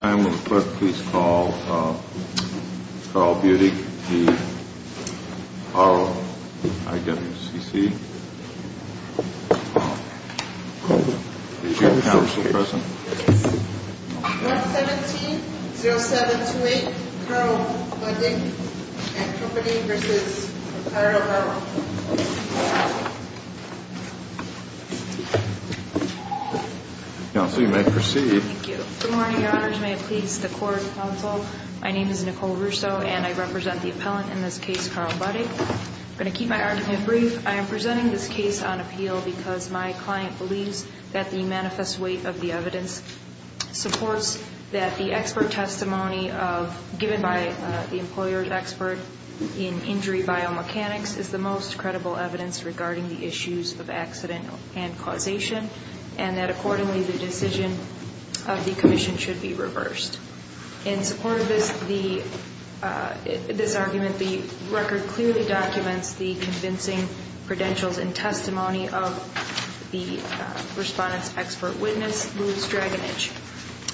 I'm going to put, please call, Carl Budig, the Carl IWCC. Carl Buddig & Co. v. Carl Burrow 117-0728, Carl Buddig & Co. v. Carl Burrow Counsel, you may proceed. Thank you. Good morning, Your Honors. May it please the Court, Counsel. My name is Nicole Russo, and I represent the appellant in this case, Carl Buddig. I'm going to keep my argument brief. I am presenting this case on appeal because my client believes that the manifest weight of the evidence supports that the expert testimony given by the employer's expert in injury biomechanics is the most credible evidence regarding the issues of accident and causation, and that, accordingly, the decision of the Commission should be reversed. In support of this argument, the record clearly documents the convincing credentials and testimony of the respondent's expert witness, Louis Draganich.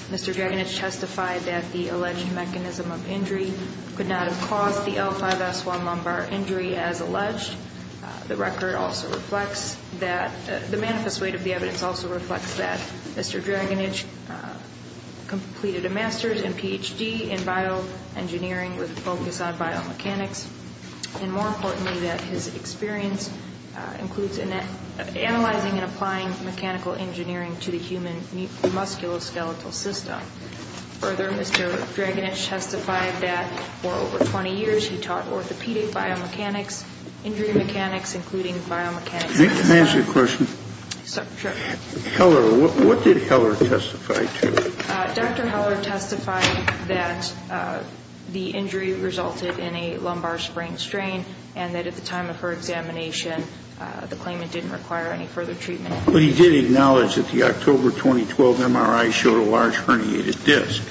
Mr. Draganich testified that the alleged mechanism of injury could not have caused the L5S1 lumbar injury as alleged. The record also reflects that the manifest weight of the evidence also reflects that Mr. Draganich completed a master's and Ph.D. in bioengineering with a focus on biomechanics, and more importantly that his experience includes analyzing and applying mechanical engineering to the human musculoskeletal system. Further, Mr. Draganich testified that for over 20 years he taught orthopedic biomechanics, injury mechanics, including biomechanics. Can I ask you a question? Sure. What did Heller testify to? Dr. Heller testified that the injury resulted in a lumbar sprain strain and that at the time of her examination the claimant didn't require any further treatment. But he did acknowledge that the October 2012 MRI showed a large herniated disc.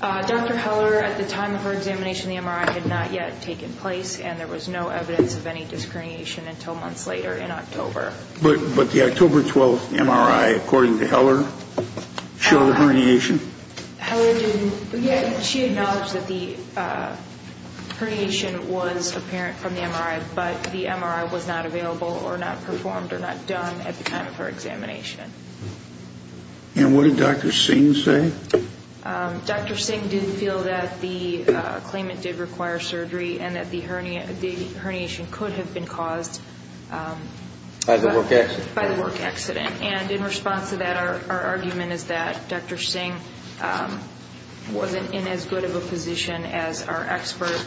Dr. Heller, at the time of her examination, the MRI had not yet taken place and there was no evidence of any disc herniation until months later in October. But the October 2012 MRI, according to Heller, showed a herniation? Heller didn't. She acknowledged that the herniation was apparent from the MRI, but the MRI was not available or not performed or not done at the time of her examination. And what did Dr. Singh say? Dr. Singh did feel that the claimant did require surgery and that the herniation could have been caused by the work accident. And in response to that, our argument is that Dr. Singh wasn't in as good of a position as our expert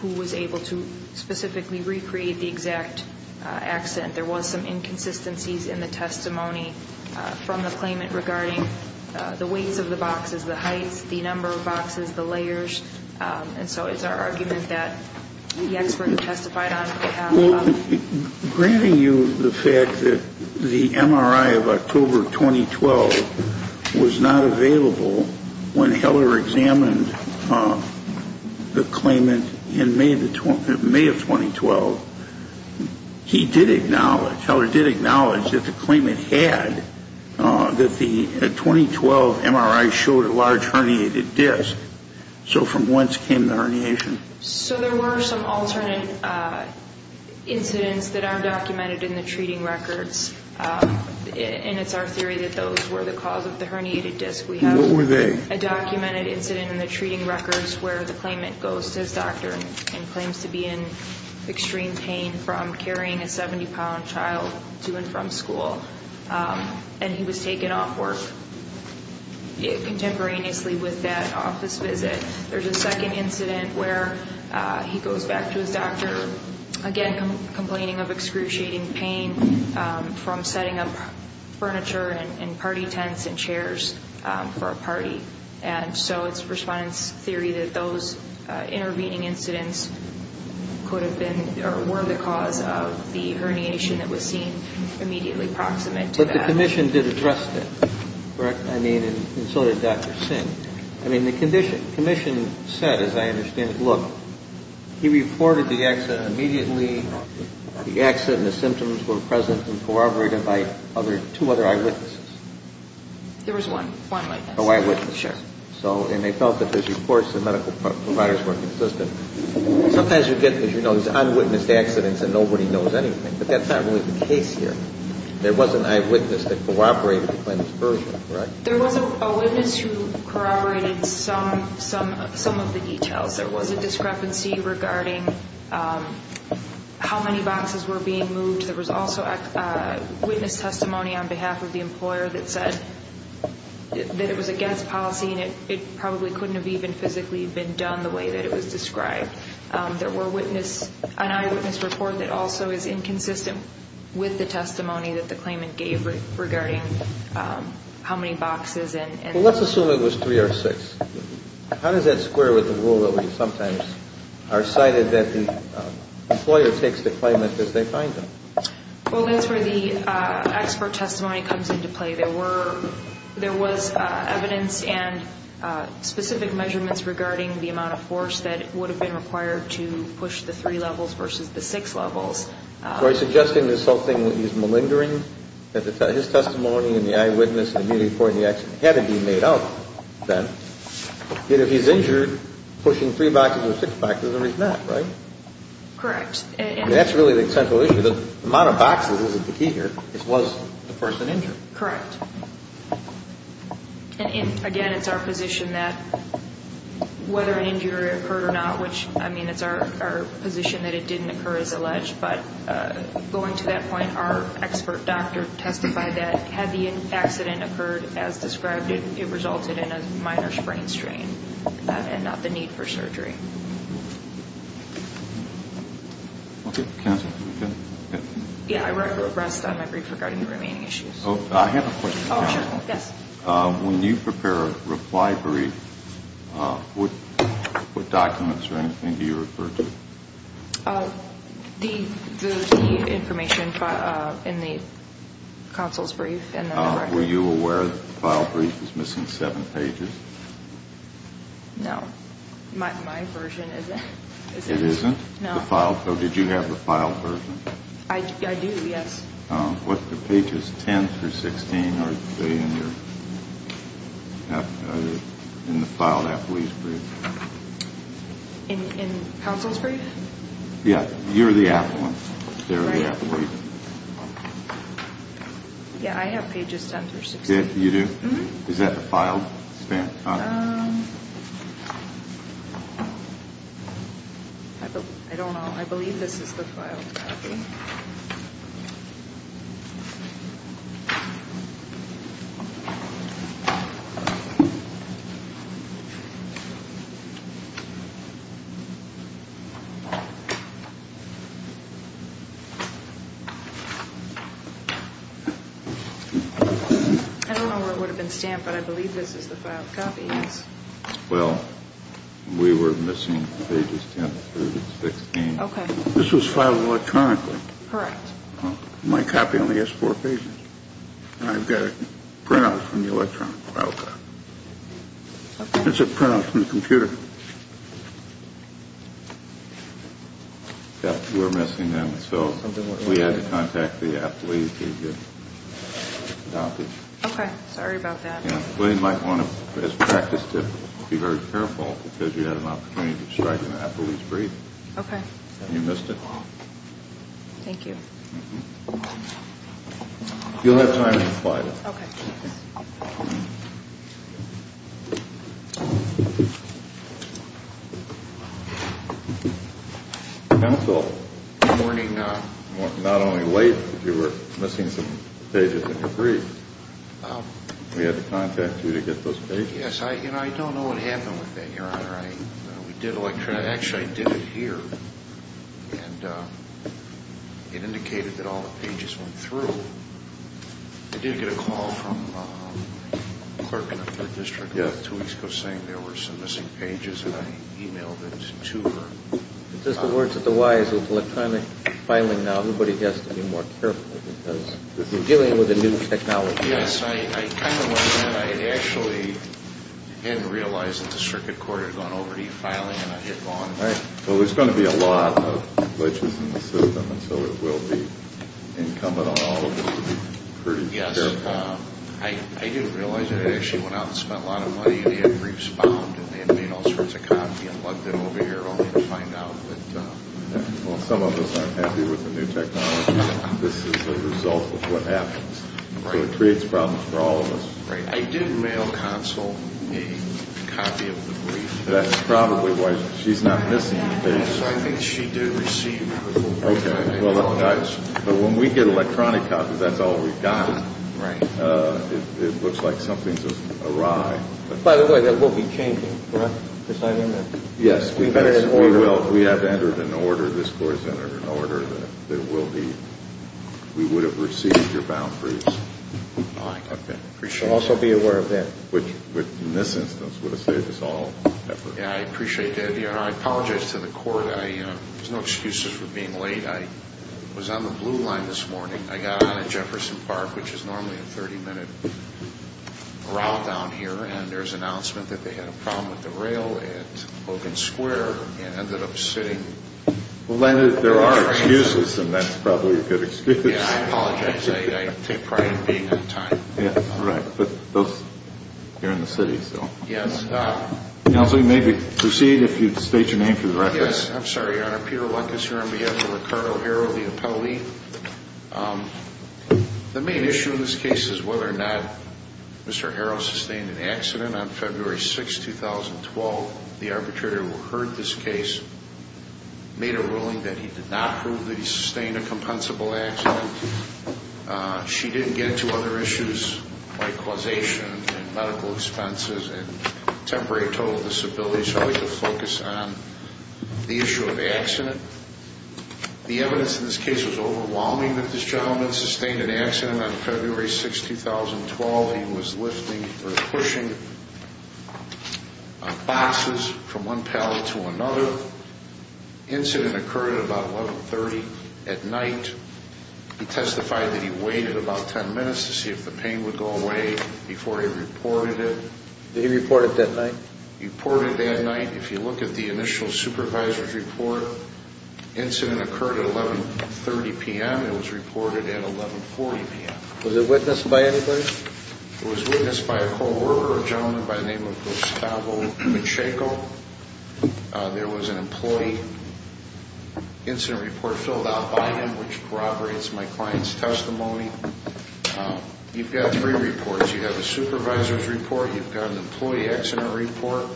who was able to specifically recreate the exact accident. There was some inconsistencies in the testimony from the claimant regarding the weights of the boxes, the heights, the number of boxes, the layers. And so it's our argument that the expert who testified on it could have. Granting you the fact that the MRI of October 2012 was not available when Heller examined the claimant in May of 2012, Heller did acknowledge that the claimant had, that the 2012 MRI showed a large herniated disc. So from whence came the herniation? So there were some alternate incidents that are documented in the treating records, and it's our theory that those were the cause of the herniated disc. What were they? A documented incident in the treating records where the claimant goes to his doctor and claims to be in extreme pain from carrying a 70-pound child to and from school. And he was taken off work contemporaneously with that office visit. There's a second incident where he goes back to his doctor, again, complaining of excruciating pain from setting up furniture and party tents and chairs for a party. And so it's Respondent's theory that those intervening incidents could have been or were the cause of the herniation that was seen immediately proximate to that. But the Commission did address that, correct? I mean, and so did Dr. Singh. I mean, the Commission said, as I understand it, look, he reported the accident immediately, the accident, the symptoms were present and corroborated by two other eyewitnesses. There was one eyewitness. An eyewitness. Sure. And they felt that his reports to the medical providers were consistent. Sometimes you get, as you know, these unwitnessed accidents and nobody knows anything. But that's not really the case here. There was an eyewitness that corroborated the claimant's version, correct? There was a witness who corroborated some of the details. There was a discrepancy regarding how many boxes were being moved. There was also witness testimony on behalf of the employer that said that it was against policy and it probably couldn't have even physically been done the way that it was described. There were eyewitness reports that also is inconsistent with the testimony that the claimant gave regarding how many boxes. Well, let's assume it was three or six. How does that square with the rule that we sometimes are cited that the employer takes the claimant as they find them? Well, that's where the expert testimony comes into play. There was evidence and specific measurements regarding the amount of force that would have been required to push the three levels versus the six levels. So are you suggesting this whole thing that he's malingering? That his testimony and the eyewitness and the immediate point of the accident had to be made out then. Yet if he's injured, pushing three boxes or six boxes is a reason not, right? Correct. That's really the central issue. The amount of boxes isn't the key here. It was the person injured. Correct. And again, it's our position that whether an injury occurred or not, which, I mean, it's our position that it didn't occur as alleged, but going to that point, our expert doctor testified that had the accident occurred as described, it resulted in a minor sprain strain and not the need for surgery. Okay. Counsel? Yeah, I read the rest of my brief regarding the remaining issues. I have a question. Oh, sure. Yes. When you prepare a reply brief, what documents or anything do you refer to? The information in the counsel's brief. Were you aware that the file brief is missing seven pages? No. My version isn't. It isn't? No. So did you have the file version? I do, yes. What pages, 10 through 16, are in the file of that brief? In counsel's brief? Yeah. You're the app one. They're the app brief. Yeah, I have pages 10 through 16. You do? Mm-hmm. Is that the file? I don't know. I believe this is the file copy. I don't know where it would have been stamped, but I believe this is the file copy. Yes. Well, we were missing pages 10 through 16. Okay. This was filed electronically. Correct. My copy only has four pages. I've got a printout from the electronic file copy. Okay. It's a printout from the computer. Okay. Yes, we were missing them, so we had to contact the app release to get copies. Okay. Sorry about that. They might want to, as practice, to be very careful because you have an opportunity to strike an app release brief. Okay. You missed it. Thank you. You'll have time to reply to us. Okay. Okay. Thank you. Counsel. Good morning. Not only late, but you were missing some pages in your brief. We had to contact you to get those pages. Yes, and I don't know what happened with that, Your Honor. We did electronically. Actually, I did it here, and it indicated that all the pages went through. I did get a call from a clerk in the 3rd District two weeks ago saying there were some missing pages, and I emailed it to her. It says the words of the wise. It's electronic filing now. Everybody has to be more careful because you're dealing with a new technology. Yes, I kind of was, and I actually didn't realize that the circuit court had gone over to e-filing, and I hit on it. All right. Well, there's going to be a lot of glitches in the system, and so it will be incumbent on all of us to be pretty careful. Yes. I didn't realize it. I actually went out and spent a lot of money, and they had briefs bound, and they had made all sorts of copies and lugged them over here only to find out. Well, some of us aren't happy with the new technology. This is the result of what happens. So it creates problems for all of us. Right. I did mail Counsel a copy of the brief. That's probably why she's not missing anything. I think she did receive it. Okay. But when we get electronic copies, that's all we've got. Right. It looks like something's awry. By the way, that will be changing, correct, this item? Yes. We have entered an order. This court has entered an order that we would have received your bound proofs. I appreciate that. Also be aware of that. Which, in this instance, would have saved us all effort. Yes, I appreciate that. I apologize to the court. There's no excuses for being late. I was on the blue line this morning. I got on at Jefferson Park, which is normally a 30-minute route down here, and there's an announcement that they had a problem with the rail at Logan Square and ended up sitting in the train. There are excuses, and that's probably a good excuse. Yes, I apologize. I take pride in being on time. Right. But those here in the city, so. Yes. Counsel, you may proceed if you state your name for the record. Yes. I'm sorry, Your Honor. Peter Luck is here on behalf of Ricardo Harrow, the appellee. The main issue in this case is whether or not Mr. Harrow sustained an accident. On February 6, 2012, the arbitrator who heard this case made a ruling that he did not prove that he sustained a compensable accident. She didn't get into other issues like causation and medical expenses and temporary total disability. So I'd like to focus on the issue of accident. The evidence in this case is overwhelming that this gentleman sustained an accident on February 6, 2012. He was lifting or pushing boxes from one pallet to another. Incident occurred at about 1130 at night. He testified that he waited about 10 minutes to see if the pain would go away before he reported it. Did he report it that night? He reported it that night. If you look at the initial supervisor's report, incident occurred at 1130 p.m. It was reported at 1140 p.m. Was it witnessed by anybody? It was witnessed by a co-worker, a gentleman by the name of Gustavo Macheco. There was an employee incident report filled out by him, which corroborates my client's testimony. You've got three reports. You have a supervisor's report, you've got an employee accident report,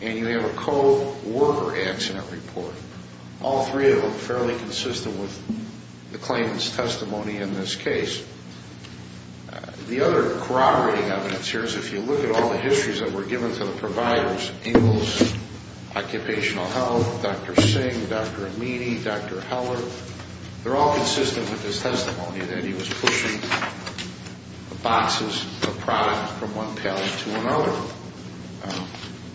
and you have a co-worker accident report. All three of them fairly consistent with the claimant's testimony in this case. The other corroborating evidence here is if you look at all the histories that were given to the providers, Ingalls, Occupational Health, Dr. Singh, Dr. Amini, Dr. Heller, they're all consistent with his testimony that he was pushing boxes of product from one pallet to another.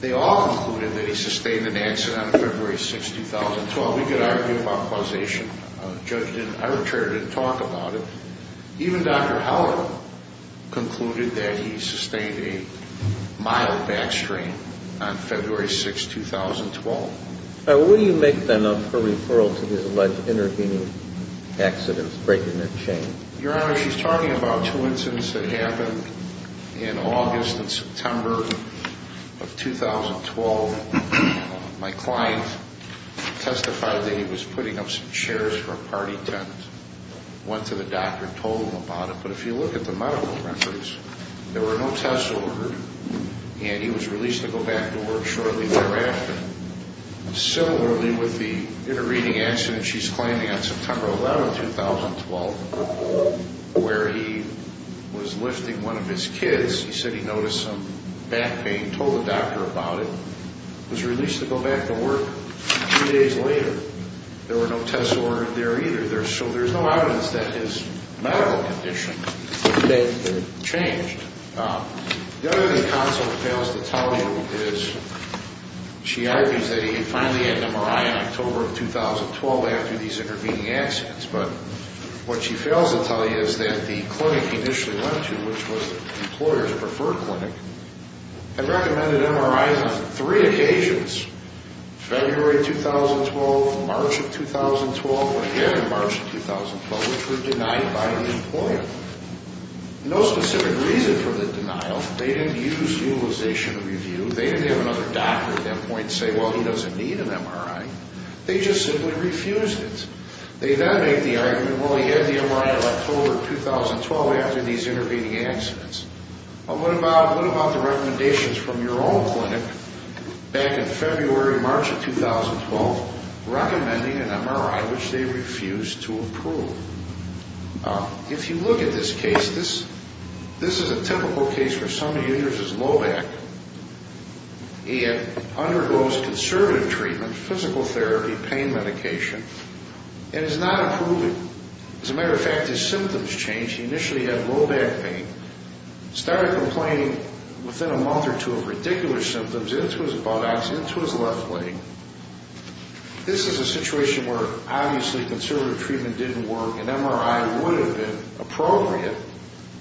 They all included that he sustained an accident on February 6, 2012. We could argue about causation. Our jury didn't talk about it. Even Dr. Heller concluded that he sustained a mild back strain on February 6, 2012. Will you make then up a referral to his alleged intervening accidents, breaking a chain? Your Honor, she's talking about two incidents that happened in August and September of 2012. My client testified that he was putting up some chairs for a party tent, went to the doctor, told him about it. But if you look at the medical records, there were no tests ordered, and he was released to go back to work shortly thereafter. Similarly, with the intervening accident she's claiming on September 11, 2012, where he was lifting one of his kids, he said he noticed some back pain, told the doctor about it, was released to go back to work two days later. There were no tests ordered there either. So there's no evidence that his medical condition had changed. The other thing the counsel fails to tell you is she argues that he finally had an MRI in October of 2012 after these intervening accidents. But what she fails to tell you is that the clinic he initially went to, which was the employer's preferred clinic, had recommended MRIs on three occasions, February 2012, March of 2012, and again in March of 2012, which were denied by the employer. No specific reason for the denial. They didn't use utilization of review. They didn't have another doctor at that point say, well, he doesn't need an MRI. They just simply refused it. They then make the argument, well, he had the MRI in October of 2012 after these intervening accidents. Well, what about the recommendations from your own clinic back in February, March of 2012, recommending an MRI, which they refused to approve? If you look at this case, this is a typical case where somebody injures his low back and undergoes conservative treatment, physical therapy, pain medication, and is not approved. As a matter of fact, his symptoms change. He initially had low back pain, started complaining within a month or two of ridiculous symptoms into his buttocks, into his left leg. This is a situation where, obviously, conservative treatment didn't work. An MRI would have been appropriate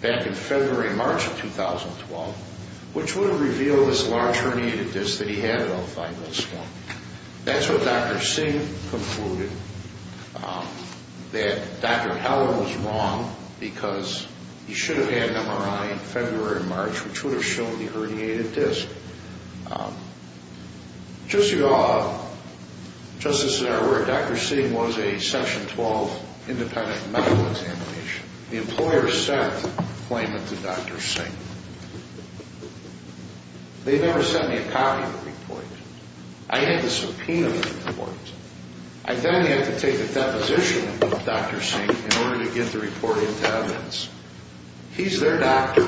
back in February, March of 2012, which would have revealed this large herniated disc that he had at all five months ago. That's what Dr. Singh concluded, that Dr. Heller was wrong because he should have had an MRI in February and March, which would have shown the herniated disc. Just so you all are just as aware, Dr. Singh was a Section 12 independent medical examination. The employer sent a claimant to Dr. Singh. They never sent me a copy of the report. I had to subpoena the report. I then had to take a deposition of Dr. Singh in order to get the report into evidence. He's their doctor.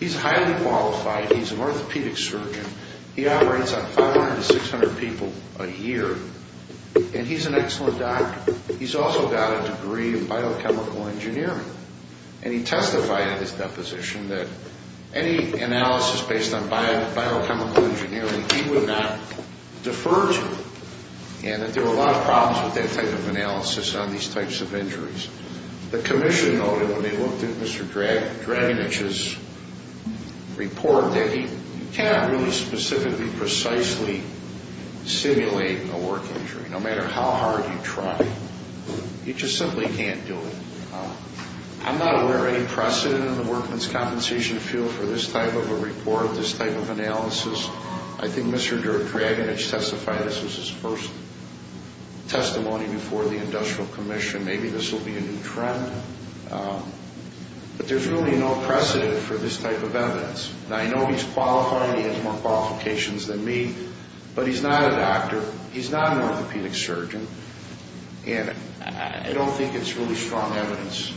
He's highly qualified. He's an orthopedic surgeon. He operates on 500 to 600 people a year, and he's an excellent doctor. He's also got a degree in biochemical engineering, and he testified in his deposition that any analysis based on biochemical engineering he would not defer to and that there were a lot of problems with that type of analysis on these types of injuries. The commission noted when they looked at Mr. Draganich's report that you cannot really specifically precisely simulate a work injury, no matter how hard you try. You just simply can't do it. I'm not aware of any precedent in the workman's compensation field for this type of a report, this type of analysis. I think Mr. Draganich testified this was his first testimony before the Industrial Commission. Maybe this will be a new trend, but there's really no precedent for this type of evidence. I know he's qualified. He has more qualifications than me, but he's not a doctor. He's not an orthopedic surgeon, and I don't think it's really strong evidence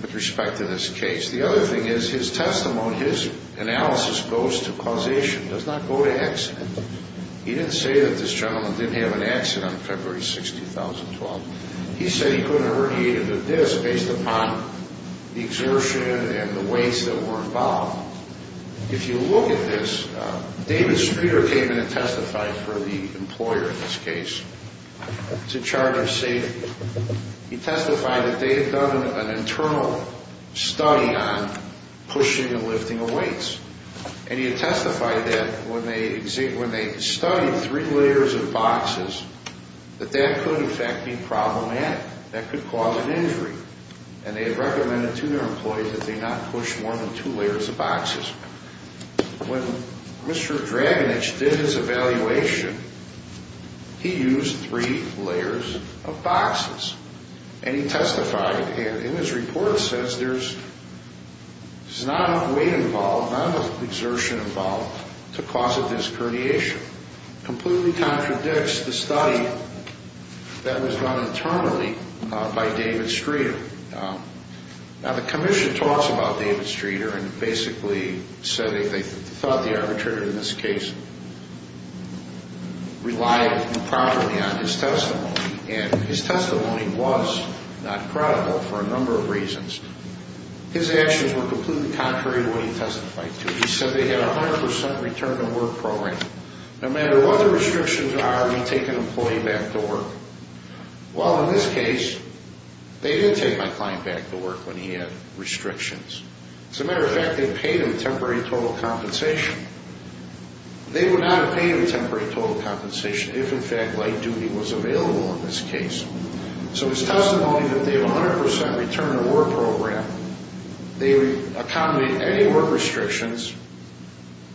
with respect to this case. The other thing is his testimony, his analysis goes to causation. It does not go to accident. He didn't say that this gentleman didn't have an accident on February 6, 2012. He said he couldn't have irritated the disc based upon the exertion and the weights that were involved. If you look at this, David Spear came in and testified for the employer in this case to charge of safety. He testified that they had done an internal study on pushing and lifting of weights, and he had testified that when they studied three layers of boxes, that that could, in fact, be problematic. That could cause an injury, and they had recommended to their employees that they not push more than two layers of boxes. When Mr. Draganich did his evaluation, he used three layers of boxes, and he testified, and his report says there's not weight involved, not exertion involved to cause a disc herniation. It completely contradicts the study that was done internally by David Streeter. Now, the commission talks about David Streeter and basically said they thought the arbitrator in this case relied improperly on his testimony, and his testimony was not credible for a number of reasons. His actions were completely contrary to what he testified to. He said they had a 100% return to work program. No matter what the restrictions are, we take an employee back to work. Well, in this case, they did take my client back to work when he had restrictions. As a matter of fact, they paid him temporary total compensation. They would not have paid him temporary total compensation if, in fact, light duty was available in this case. So his testimony that they have a 100% return to work program, they accommodate any work restrictions,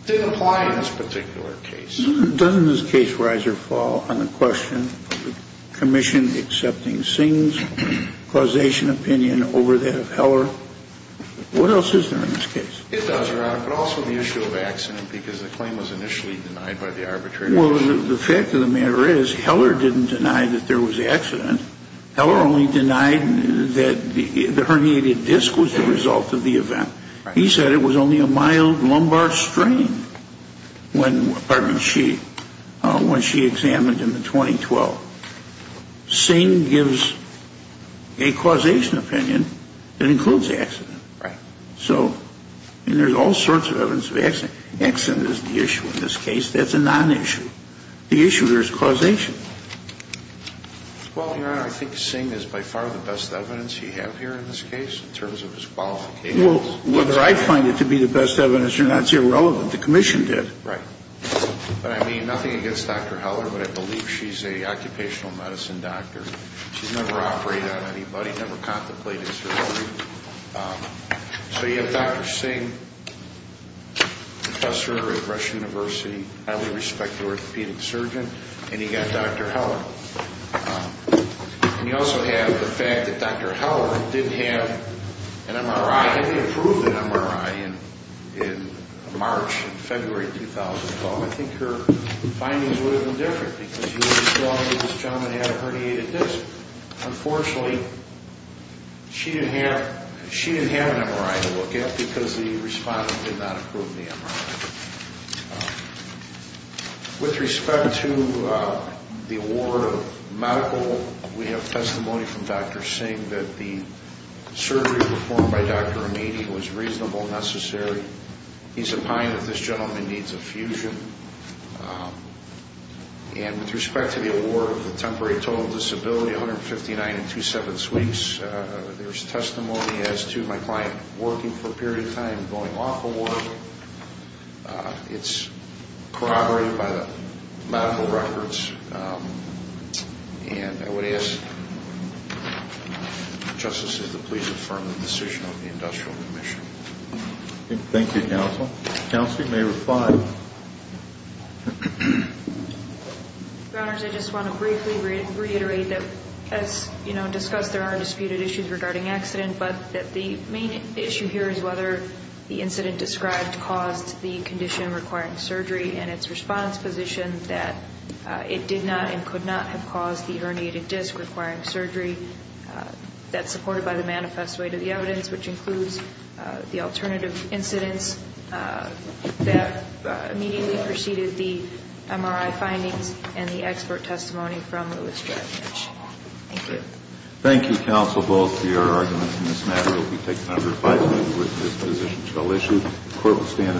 didn't apply in this particular case. Doesn't his case rise or fall on the question of the commission accepting Singh's causation opinion over that of Heller? What else is there in this case? His thoughts are out, but also the issue of accident, because the claim was initially denied by the arbitrator. Well, the fact of the matter is Heller didn't deny that there was accident. Heller only denied that the herniated disc was the result of the event. He said it was only a mild lumbar strain when she examined him in 2012. Singh gives a causation opinion that includes accident. So there's all sorts of evidence of accident. Accident is the issue in this case. That's a nonissue. The issue here is causation. Well, Your Honor, I think Singh is by far the best evidence you have here in this case in terms of his qualifications. Well, whether I find it to be the best evidence or not is irrelevant. The commission did. Right. But, I mean, nothing against Dr. Heller, but I believe she's an occupational medicine doctor. She's never operated on anybody, never contemplated surgery. So you have Dr. Singh, professor at Rush University, highly respected orthopedic surgeon, and you've got Dr. Heller. And you also have the fact that Dr. Heller didn't have an MRI, hadn't approved an MRI in March, February of 2012. I think her findings would have been different, because you would have told me this gentleman had a herniated disc. Unfortunately, she didn't have an MRI to look at because the respondent did not approve the MRI. With respect to the award of medical, we have testimony from Dr. Singh that the surgery performed by Dr. Ramini was reasonable, necessary. He's opined that this gentleman needs a fusion. And with respect to the award of the temporary total disability, 159 and two-sevenths weeks, there's testimony as to my client working for a period of time and going off of work. It's corroborated by the medical records. And I would ask the justices to please affirm the decision of the industrial commission. Thank you, counsel. Counsel, you may reply. Your Honors, I just want to briefly reiterate that, as, you know, discussed, there are disputed issues regarding accident, but that the main issue here is whether the incident described caused the condition requiring surgery and its response position that it did not and could not have caused the herniated disc requiring surgery. That's supported by the manifest way to the evidence, which includes the alternative incidents that immediately preceded the MRI findings and the expert testimony from Louis Dredd. Thank you. Thank you, counsel. Both your arguments in this matter will be taken under advisement with this position still issued. The court will stand adjourned.